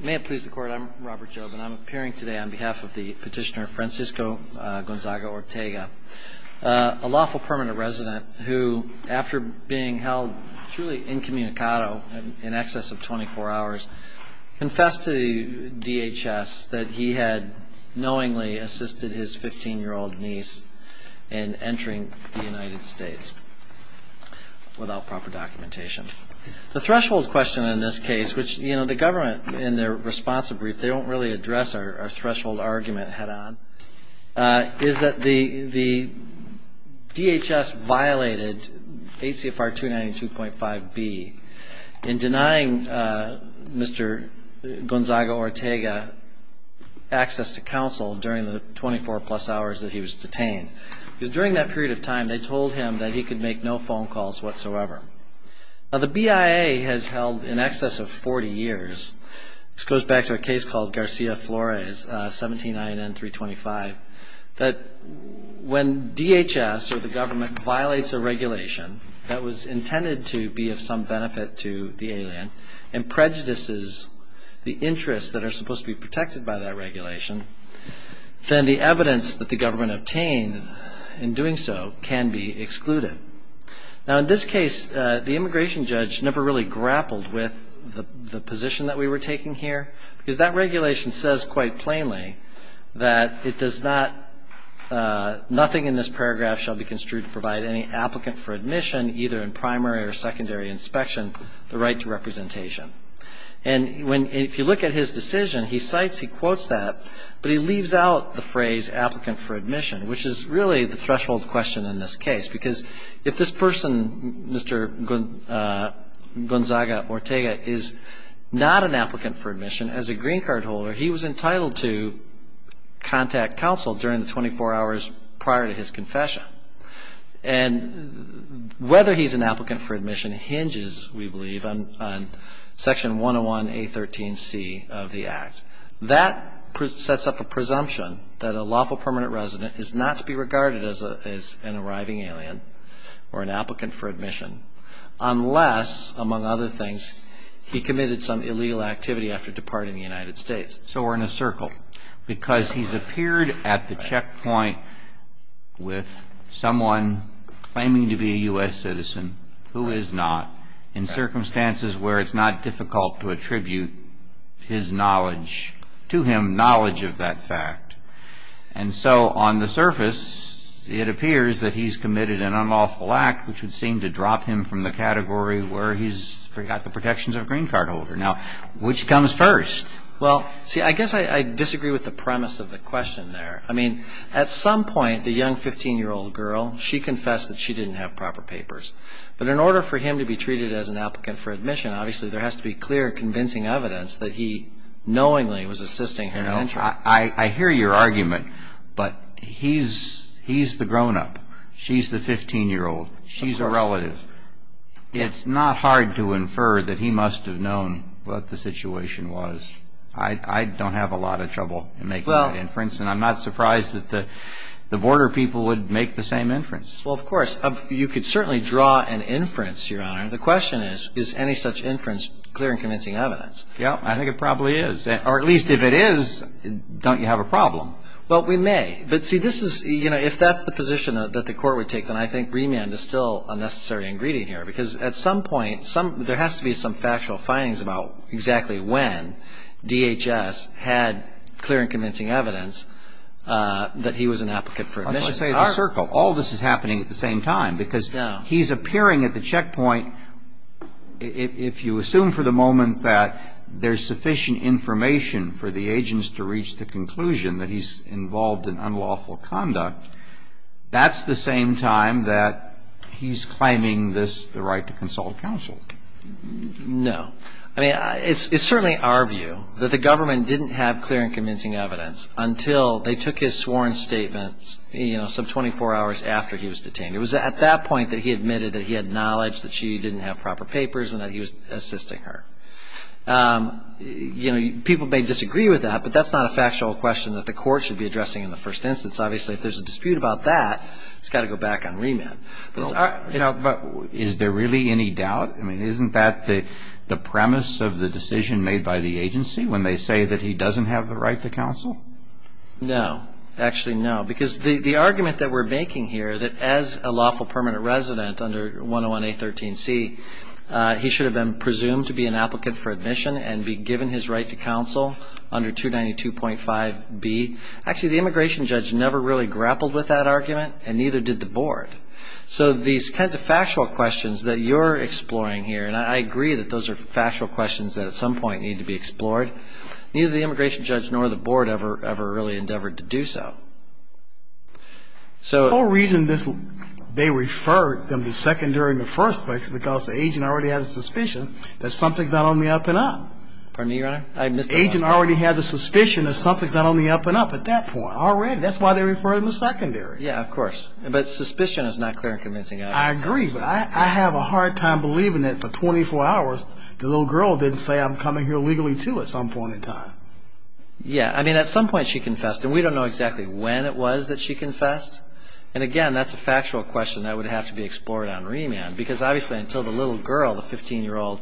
May it please the court, I'm Robert Jobe, and I'm appearing today on behalf of the petitioner Francisco Gonzaga-Ortega, a lawful permanent resident who, after being held truly incommunicado in excess of 24 hours, confessed to the DHS that he had knowingly assisted his 15-year-old niece in entering the United States, without proper documentation. The threshold question in this case, which, you know, the government, in their responsive brief, they don't really address our threshold argument head on, is that the DHS violated H.C.F.R. 292.5b in denying Mr. Gonzaga-Ortega access to counsel during the 24-plus hours that he was detained. Because during that period of time, they told him that he could make no phone calls whatsoever. Now, the BIA has held in excess of 40 years, this goes back to a case called Garcia Flores, 17 INN 325, that when DHS or the government violates a regulation that was intended to be of some benefit to the alien and prejudices the interests that are supposed to be protected by that regulation, then the evidence that the government obtained in doing so can be excluded. Now, in this case, the immigration judge never really grappled with the position that we were taking here, because that regulation says quite plainly that it does not, nothing in this paragraph shall be construed to provide any applicant for admission, either in primary or secondary inspection, the right to representation. And when, if you look at his decision, he cites, he quotes that, but he leaves out the phrase applicant for admission, which is really the threshold question in this case. Because if this person, Mr. Gonzaga-Ortega, is not an applicant for admission, as a green card holder, he was entitled to contact counsel during the 24 hours prior to his confession. And whether he's an applicant for admission hinges, we believe, on Section 101A13C of the Act. That sets up a presumption that a lawful permanent resident is not to be regarded as an arriving alien or an applicant for admission unless, among other things, he committed some illegal activity after departing the United States. So we're in a circle. Because he's appeared at the checkpoint with someone claiming to be a U.S. citizen who is not, in circumstances where it's not difficult to attribute his knowledge to him, knowledge of that fact. And so on the surface, it appears that he's committed an unlawful act, which would seem to drop him from the category where he's got the protections of a green card holder. Now, which comes first? Well, see, I guess I disagree with the premise of the question there. I mean, at some point, the young 15-year-old girl, she confessed that she didn't have proper papers. But in order for him to be treated as an applicant for admission, obviously there has to be clear convincing evidence that he knowingly was assisting her mentor. I hear your argument, but he's the grown-up. She's the 15-year-old. She's a relative. Well, it's not hard to infer that he must have known what the situation was. I don't have a lot of trouble in making that inference, and I'm not surprised that the border people would make the same inference. Well, of course. You could certainly draw an inference, Your Honor. The question is, is any such inference clear and convincing evidence? Yeah, I think it probably is. Or at least if it is, don't you have a problem? Well, we may. But, see, this is, you know, if that's the position that the Court would take, and I think remand is still a necessary ingredient here, because at some point there has to be some factual findings about exactly when DHS had clear and convincing evidence that he was an applicant for admission. Let's say it's a circle. All this is happening at the same time, because he's appearing at the checkpoint. If you assume for the moment that there's sufficient information for the agents to reach the conclusion that he's involved in unlawful conduct, that's the same time that he's claiming the right to consult counsel. No. I mean, it's certainly our view that the government didn't have clear and convincing evidence until they took his sworn statement, you know, some 24 hours after he was detained. It was at that point that he admitted that he had knowledge that she didn't have proper papers and that he was assisting her. You know, people may disagree with that, but that's not a factual question that the Court should be addressing in the first instance. Obviously, if there's a dispute about that, it's got to go back on remand. But is there really any doubt? I mean, isn't that the premise of the decision made by the agency when they say that he doesn't have the right to counsel? No. Actually, no, because the argument that we're making here, that as a lawful permanent resident under 101A.13c, he should have been presumed to be an applicant for admission and be given his right to counsel under 292.5b. Actually, the immigration judge never really grappled with that argument and neither did the Board. So these kinds of factual questions that you're exploring here, and I agree that those are factual questions that at some point need to be explored, neither the immigration judge nor the Board ever really endeavored to do so. The whole reason they referred him to secondary in the first place is because the agent already has a suspicion that something's not only up and up. Pardon me, Your Honor? The agent already has a suspicion that something's not only up and up at that point already. That's why they referred him to secondary. Yeah, of course, but suspicion is not clear and convincing evidence. I agree, but I have a hard time believing that for 24 hours the little girl didn't say, I'm coming here legally too at some point in time. Yeah, I mean, at some point she confessed, and we don't know exactly when it was that she confessed. And again, that's a factual question that would have to be explored on remand because obviously until the little girl, the 15-year-old,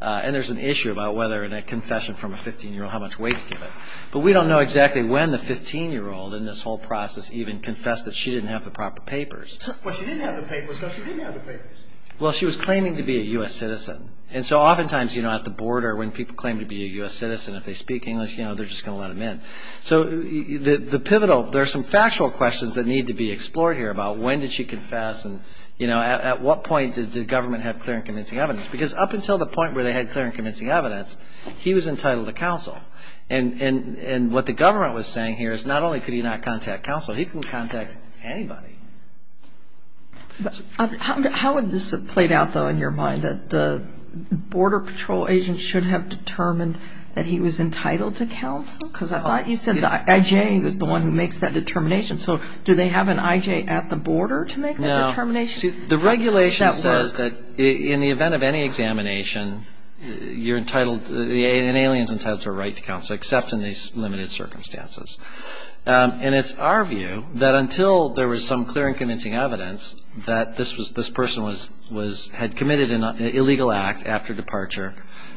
and there's an issue about whether a confession from a 15-year-old, how much weight to give it. But we don't know exactly when the 15-year-old in this whole process even confessed that she didn't have the proper papers. Well, she didn't have the papers because she didn't have the papers. Well, she was claiming to be a U.S. citizen. And so oftentimes at the Board or when people claim to be a U.S. citizen, if they speak English, they're just going to let them in. So the pivotal, there are some factual questions that need to be explored here about when did she confess and at what point did the government have clear and convincing evidence. Because up until the point where they had clear and convincing evidence, he was entitled to counsel. And what the government was saying here is not only could he not contact counsel, he could contact anybody. How would this have played out, though, in your mind, that the Border Patrol agent should have determined that he was entitled to counsel? Because I thought you said the I.J. was the one who makes that determination. So do they have an I.J. at the border to make that determination? The regulation says that in the event of any examination, an alien is entitled to a right to counsel except in these limited circumstances. And it's our view that until there was some clear and convincing evidence that this person had committed an illegal act after departure,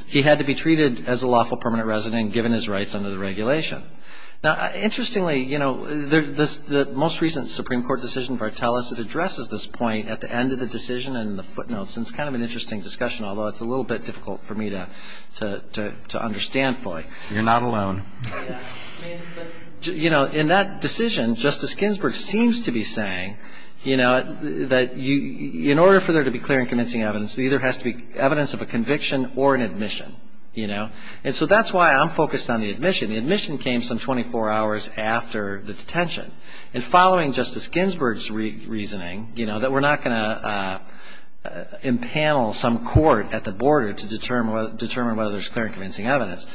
he had to be treated as a lawful permanent resident and given his rights under the regulation. Now, interestingly, you know, the most recent Supreme Court decision, Vartelis, it addresses this point at the end of the decision in the footnotes. And it's kind of an interesting discussion, although it's a little bit difficult for me to understand fully. You're not alone. You know, in that decision, Justice Ginsburg seems to be saying, you know, that in order for there to be clear and convincing evidence, there either has to be evidence of a conviction or an admission, you know. And so that's why I'm focused on the admission. The admission came some 24 hours after the detention. And following Justice Ginsburg's reasoning, you know, that we're not going to impanel some court at the border to determine whether there's clear and convincing evidence,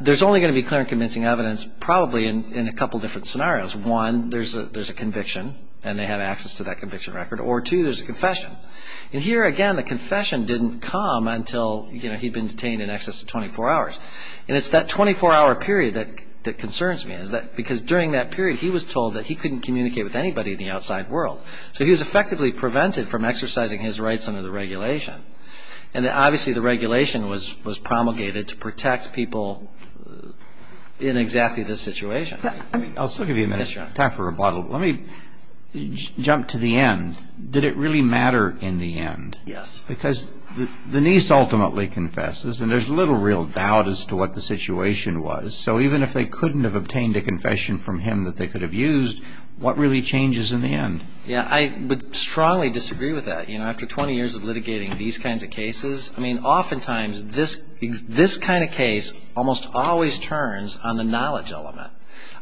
there's only going to be clear and convincing evidence probably in a couple different scenarios. One, there's a conviction, and they have access to that conviction record. Or two, there's a confession. And here, again, the confession didn't come until, you know, he'd been detained in excess of 24 hours. And it's that 24-hour period that concerns me, because during that period he was told that he couldn't communicate with anybody in the outside world. So he was effectively prevented from exercising his rights under the regulation. And obviously the regulation was promulgated to protect people in exactly this situation. I'll still give you a minute. Yes, Your Honor. Time for rebuttal. Let me jump to the end. Did it really matter in the end? Yes. Because the niece ultimately confesses, and there's little real doubt as to what the situation was. So even if they couldn't have obtained a confession from him that they could have used, what really changes in the end? Yeah, I would strongly disagree with that. You know, after 20 years of litigating these kinds of cases, I mean, oftentimes this kind of case almost always turns on the knowledge element.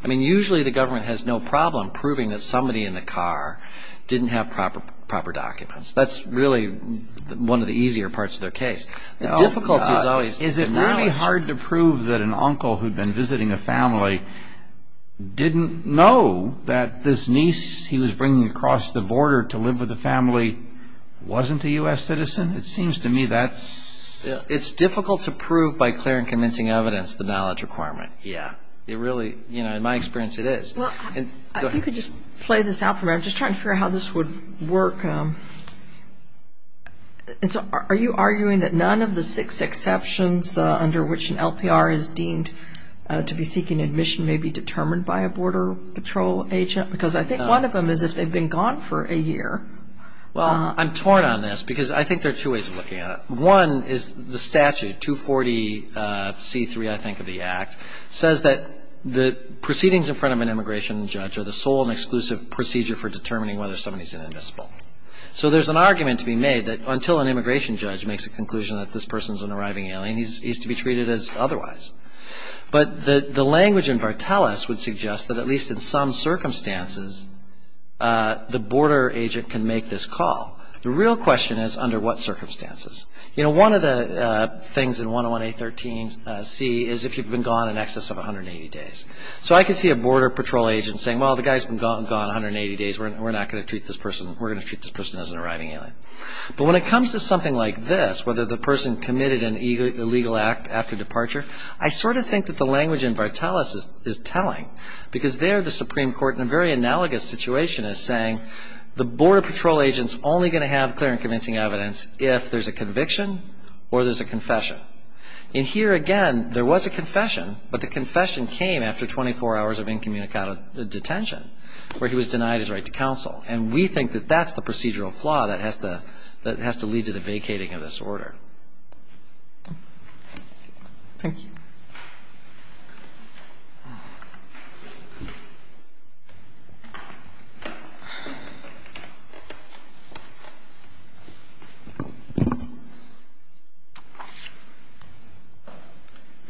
I mean, usually the government has no problem proving that somebody in the car didn't have proper documents. That's really one of the easier parts of their case. The difficulty is always the knowledge. Is it really hard to prove that an uncle who'd been visiting a family didn't know that this niece he was bringing across the border to live with the family wasn't a U.S. citizen? It seems to me that's... It's difficult to prove by clear and convincing evidence the knowledge requirement. Yeah. In my experience, it is. You could just play this out for me. I'm just trying to figure out how this would work. Are you arguing that none of the six exceptions under which an LPR is deemed to be seeking admission may be determined by a Border Patrol agent? Because I think one of them is if they've been gone for a year. Well, I'm torn on this because I think there are two ways of looking at it. One is the statute, 240C3, I think, of the Act, says that the proceedings in front of an immigration judge are the sole and exclusive procedure for determining whether somebody's an invisible. So there's an argument to be made that until an immigration judge makes a conclusion that this person's an arriving alien, he's to be treated as otherwise. But the language in Vartelis would suggest that at least in some circumstances, the border agent can make this call. The real question is under what circumstances. You know, one of the things in 101A13C is if you've been gone in excess of 180 days. So I could see a Border Patrol agent saying, well, the guy's been gone 180 days. We're not going to treat this person. We're going to treat this person as an arriving alien. But when it comes to something like this, whether the person committed an illegal act after departure, I sort of think that the language in Vartelis is telling because there the Supreme Court, in a very analogous situation, is saying the Border Patrol agent's only going to have clear and convincing evidence if there's a conviction or there's a confession. And here, again, there was a confession, but the confession came after 24 hours of incommunicado detention where he was denied his right to counsel. And we think that that's the procedural flaw that has to lead to the vacating of this order. Thank you.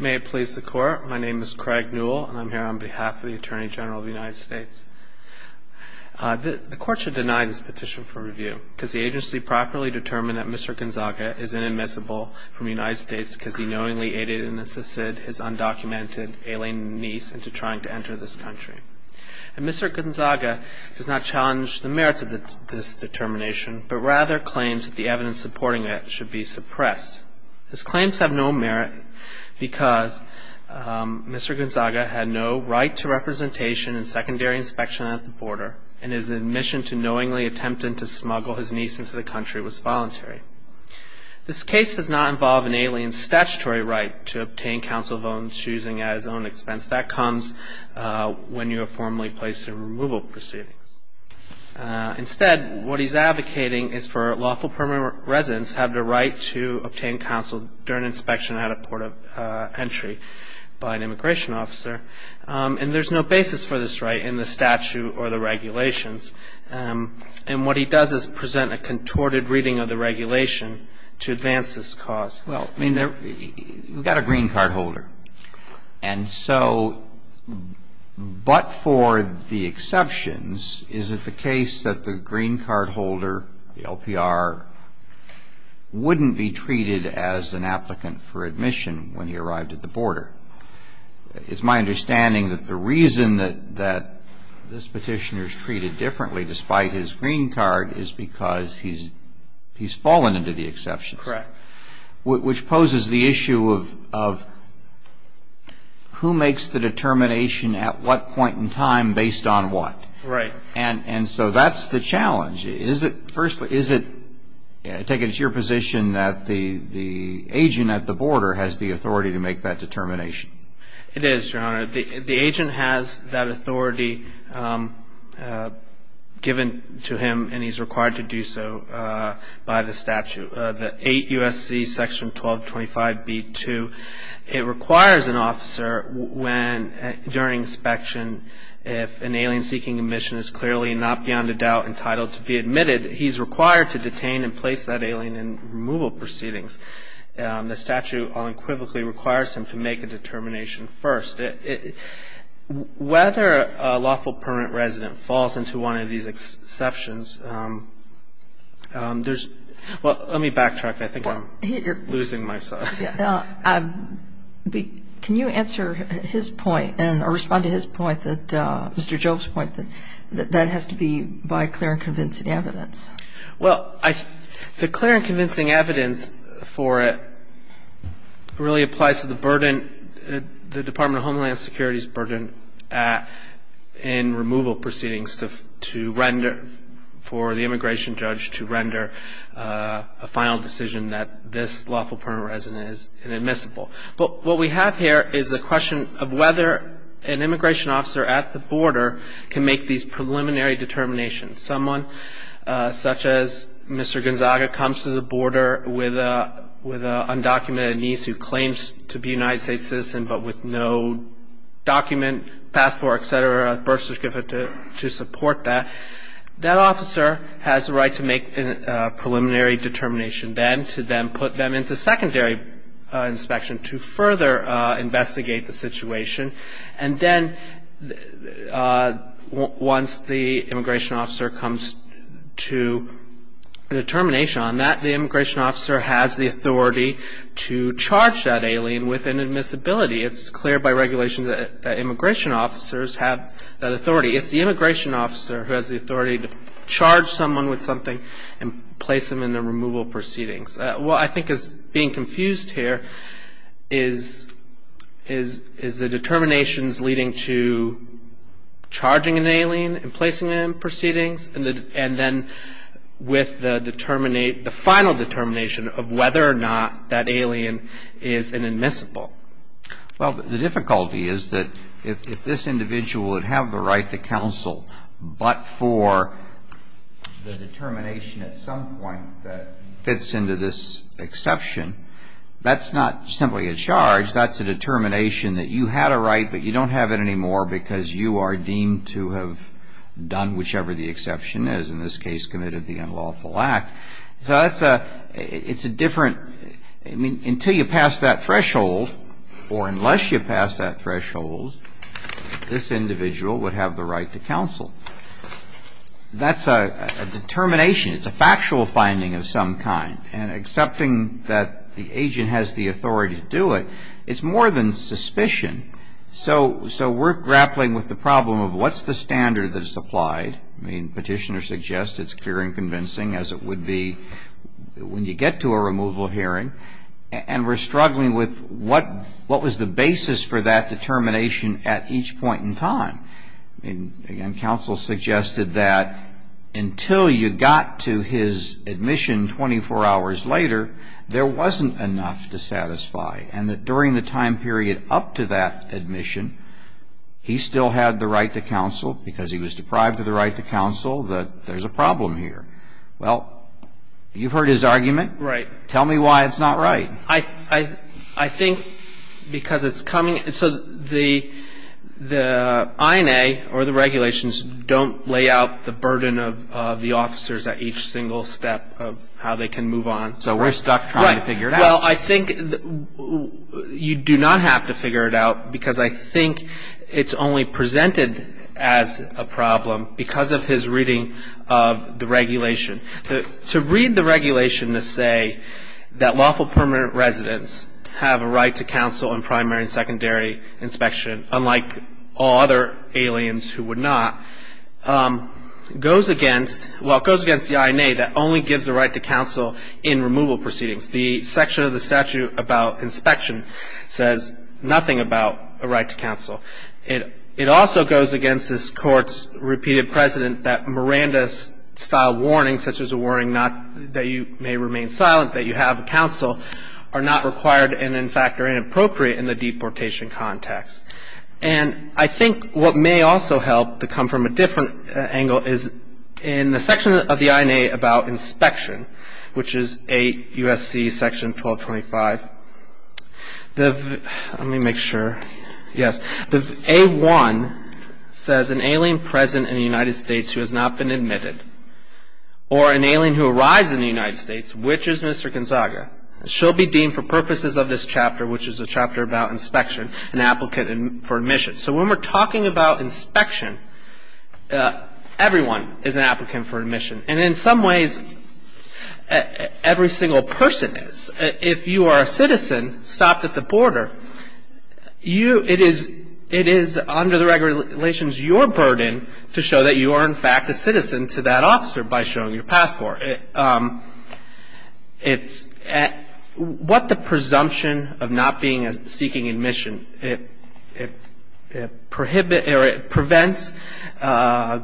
May it please the Court. My name is Craig Newell, and I'm here on behalf of the Attorney General of the United States. The Court should deny this petition for review because the agency properly determined that Mr. Gonzaga is inadmissible from the United States because he knowingly aided and assisted his undocumented alien niece into trying to enter this country. And Mr. Gonzaga does not challenge the merits of this determination, but rather claims that the evidence supporting it should be suppressed. His claims have no merit because Mr. Gonzaga had no right to representation and secondary inspection at the border, and his admission to knowingly attempting to smuggle his niece into the country was voluntary. This case does not involve an alien's statutory right to obtain counsel of his own choosing at his own expense. That comes when you are formally placed in removal proceedings. Instead, what he's advocating is for lawful permanent residents to have the right to obtain counsel during inspection at a port of entry by an immigration officer. And there's no basis for this right in the statute or the regulations. And what he does is present a contorted reading of the regulation to advance this cause. Well, I mean, we've got a green card holder. And so but for the exceptions, is it the case that the green card holder, the LPR, wouldn't be treated as an applicant for admission when he arrived at the border? It's my understanding that the reason that this petitioner is treated differently despite his green card is because he's fallen into the exceptions. Correct. Which poses the issue of who makes the determination at what point in time based on what. Right. And so that's the challenge. First, is it taken as your position that the agent at the border has the authority to make that determination? It is, Your Honor. The agent has that authority given to him, and he's required to do so by the statute, the 8 U.S.C. Section 1225b-2. It requires an officer when, during inspection, if an alien seeking admission is clearly not beyond a doubt entitled to be admitted, he's required to detain and place that alien in removal proceedings. The statute unequivocally requires him to make a determination first. Whether a lawful permanent resident falls into one of these exceptions, there's – well, let me backtrack. I think I'm losing myself. Can you answer his point or respond to his point, Mr. Jove's point, that that has to be by clear and convincing evidence? Well, the clear and convincing evidence for it really applies to the burden, the Department of Homeland Security's burden in removal proceedings to render, for the immigration judge to render a final decision that this lawful permanent resident is inadmissible. But what we have here is the question of whether an immigration officer at the border can make these preliminary determinations. Someone such as Mr. Gonzaga comes to the border with an undocumented niece who claims to be a United States citizen but with no document, passport, et cetera, birth certificate to support that. That officer has the right to make a preliminary determination then to then put them into secondary inspection to further investigate the situation. And then once the immigration officer comes to a determination on that, the immigration officer has the authority to charge that alien with inadmissibility. It's clear by regulation that immigration officers have that authority. It's the immigration officer who has the authority to charge someone with something and place them in the removal proceedings. What I think is being confused here is the determinations leading to charging an alien and placing them in proceedings and then with the final determination of whether or not that alien is inadmissible. Well, the difficulty is that if this individual would have the right to counsel but for the determination at some point that fits into this exception, that's not simply a charge, that's a determination that you had a right but you don't have it anymore because you are deemed to have done whichever the exception is, in this case committed the unlawful act. So that's a, it's a different, I mean, until you pass that threshold or unless you pass that threshold, this individual would have the right to counsel. That's a determination. It's a factual finding of some kind. And accepting that the agent has the authority to do it, it's more than suspicion. So we're grappling with the problem of what's the standard that is applied. I mean, petitioners suggest it's clear and convincing, as it would be when you get to a removal hearing. And we're struggling with what was the basis for that determination at each point in time. And counsel suggested that until you got to his admission 24 hours later, there wasn't enough to satisfy and that during the time period up to that admission, he still had the right to counsel because he was deprived of the right to counsel, that there's a problem here. Well, you've heard his argument. Right. Tell me why it's not right. I think because it's coming, so the INA or the regulations don't lay out the burden of the officers at each single step of how they can move on. So we're stuck trying to figure it out. Well, I think you do not have to figure it out because I think it's only presented as a problem because of his reading of the regulation. To read the regulation to say that lawful permanent residents have a right to counsel in primary and secondary inspection, unlike all other aliens who would not, goes against the INA that only gives the right to counsel in removal proceedings. The section of the statute about inspection says nothing about a right to counsel. It also goes against this Court's repeated precedent that Miranda-style warnings, such as a warning that you may remain silent, that you have counsel, are not required and, in fact, are inappropriate in the deportation context. And I think what may also help to come from a different angle is in the section of the INA about inspection, which is 8 U.S.C. section 1225. Let me make sure. Yes. The A-1 says an alien present in the United States who has not been admitted or an alien who arrives in the United States, which is Mr. Gonzaga, shall be deemed for purposes of this chapter, which is a chapter about inspection, an applicant for admission. So when we're talking about inspection, everyone is an applicant for admission. And in some ways, every single person is. If you are a citizen stopped at the border, you – it is under the regulations your burden to show that you are, in fact, a citizen to that officer by showing your passport. It's – what the presumption of not being – seeking admission. It prohibits – or it prevents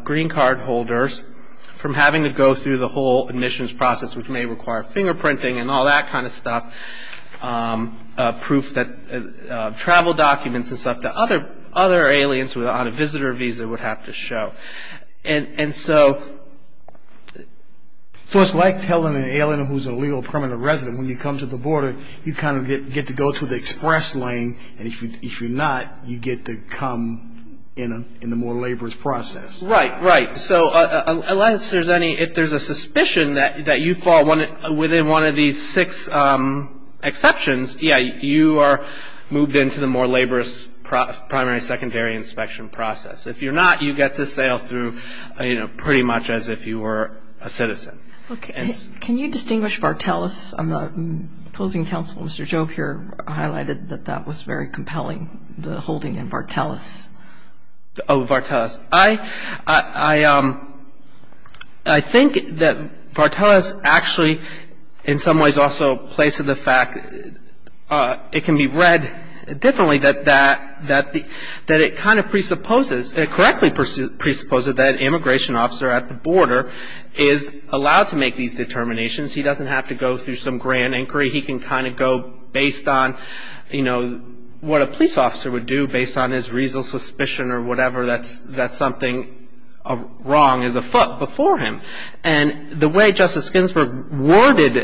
green card holders from having to go through the whole admissions process, which may require fingerprinting and all that kind of stuff, proof that – travel documents and stuff that other aliens on a visitor visa would have to show. And so – So it's like telling an alien who's a legal permanent resident, when you come to the border, you kind of get to go to the express lane, and if you're not, you get to come in the more laborious process. Right, right. So unless there's any – if there's a suspicion that you fall within one of these six exceptions, yeah, you are moved into the more laborious primary, secondary inspection process. If you're not, you get to sail through, you know, pretty much as if you were a citizen. Can you distinguish Vartelis? The opposing counsel, Mr. Job here, highlighted that that was very compelling, the holding in Vartelis. Oh, Vartelis. I think that Vartelis actually in some ways also plays to the fact – it can be read differently that that – that it kind of presupposes – he's allowed to make these determinations. He doesn't have to go through some grand inquiry. He can kind of go based on, you know, what a police officer would do based on his reasonable suspicion or whatever. That's something wrong as a foot before him. And the way Justice Ginsburg worded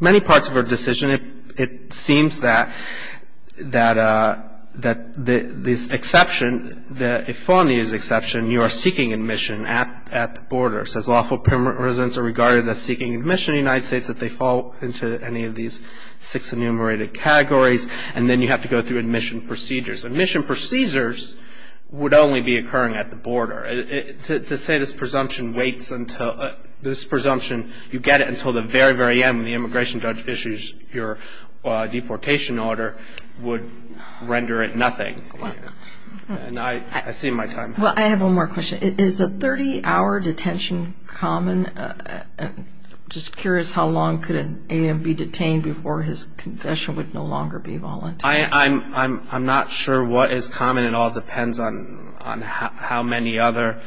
many parts of her decision, it seems that this exception – you are seeking admission at the border. It says lawful permanent residents are regarded as seeking admission in the United States if they fall into any of these six enumerated categories. And then you have to go through admission procedures. Admission procedures would only be occurring at the border. To say this presumption waits until – this presumption, you get it until the very, very end when the immigration judge issues your deportation order would render it nothing. And I see my time. Well, I have one more question. Is a 30-hour detention common? I'm just curious how long could an alien be detained before his confession would no longer be voluntary. I'm not sure what is common at all. It depends on how many other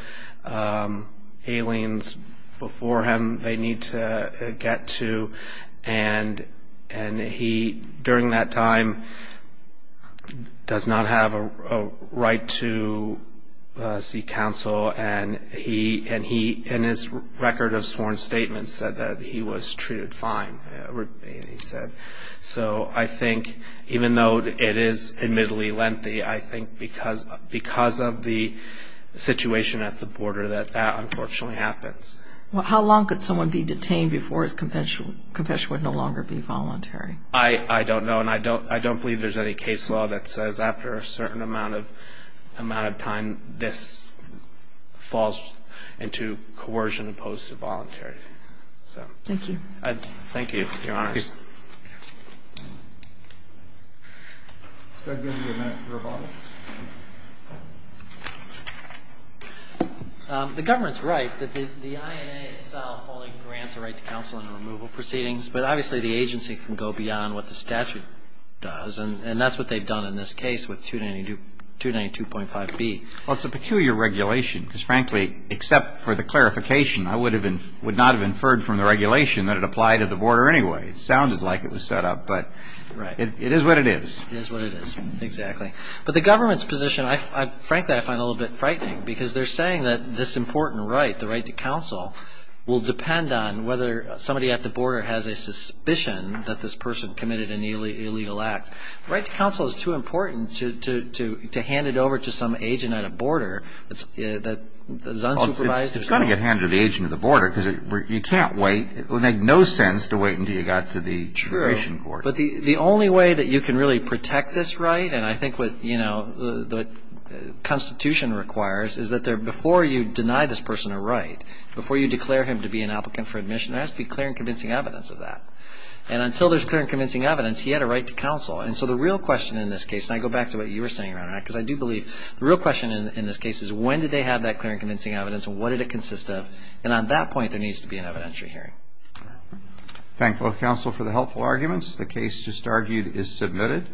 aliens before him they need to get to. And he, during that time, does not have a right to seek counsel. And he, in his record of sworn statements, said that he was treated fine, he said. So I think even though it is admittedly lengthy, I think because of the situation at the border that that unfortunately happens. Well, how long could someone be detained before his confession would no longer be voluntary? I don't know. And I don't believe there's any case law that says after a certain amount of time, this falls into coercion opposed to voluntary. Thank you. Thank you, Your Honors. The government's right that the INA itself only grants a right to counsel in the removal proceedings, but obviously the agency can go beyond what the statute does. And that's what they've done in this case with 292.5B. Well, it's a peculiar regulation because, frankly, except for the clarification, I would not have inferred from the regulation that it applied at the border anyway. It sounded like it was set up, but it is what it is. It is what it is, exactly. But the government's position, frankly, I find a little bit frightening because they're saying that this important right, the right to counsel, will depend on whether somebody at the border has a suspicion that this person committed an illegal act. The right to counsel is too important to hand it over to some agent at a border that is unsupervised. It's going to get handed to the agent at the border because you can't wait. It would make no sense to wait until you got to the immigration court. True, but the only way that you can really protect this right, and I think what the Constitution requires is that before you deny this person a right, before you declare him to be an applicant for admission, there has to be clear and convincing evidence of that. And until there's clear and convincing evidence, he had a right to counsel. And so the real question in this case, and I go back to what you were saying, Your Honor, because I do believe the real question in this case is when did they have that clear and convincing evidence and what did it consist of? And on that point, there needs to be an evidentiary hearing. Thank both counsel for the helpful arguments. The case just argued is submitted.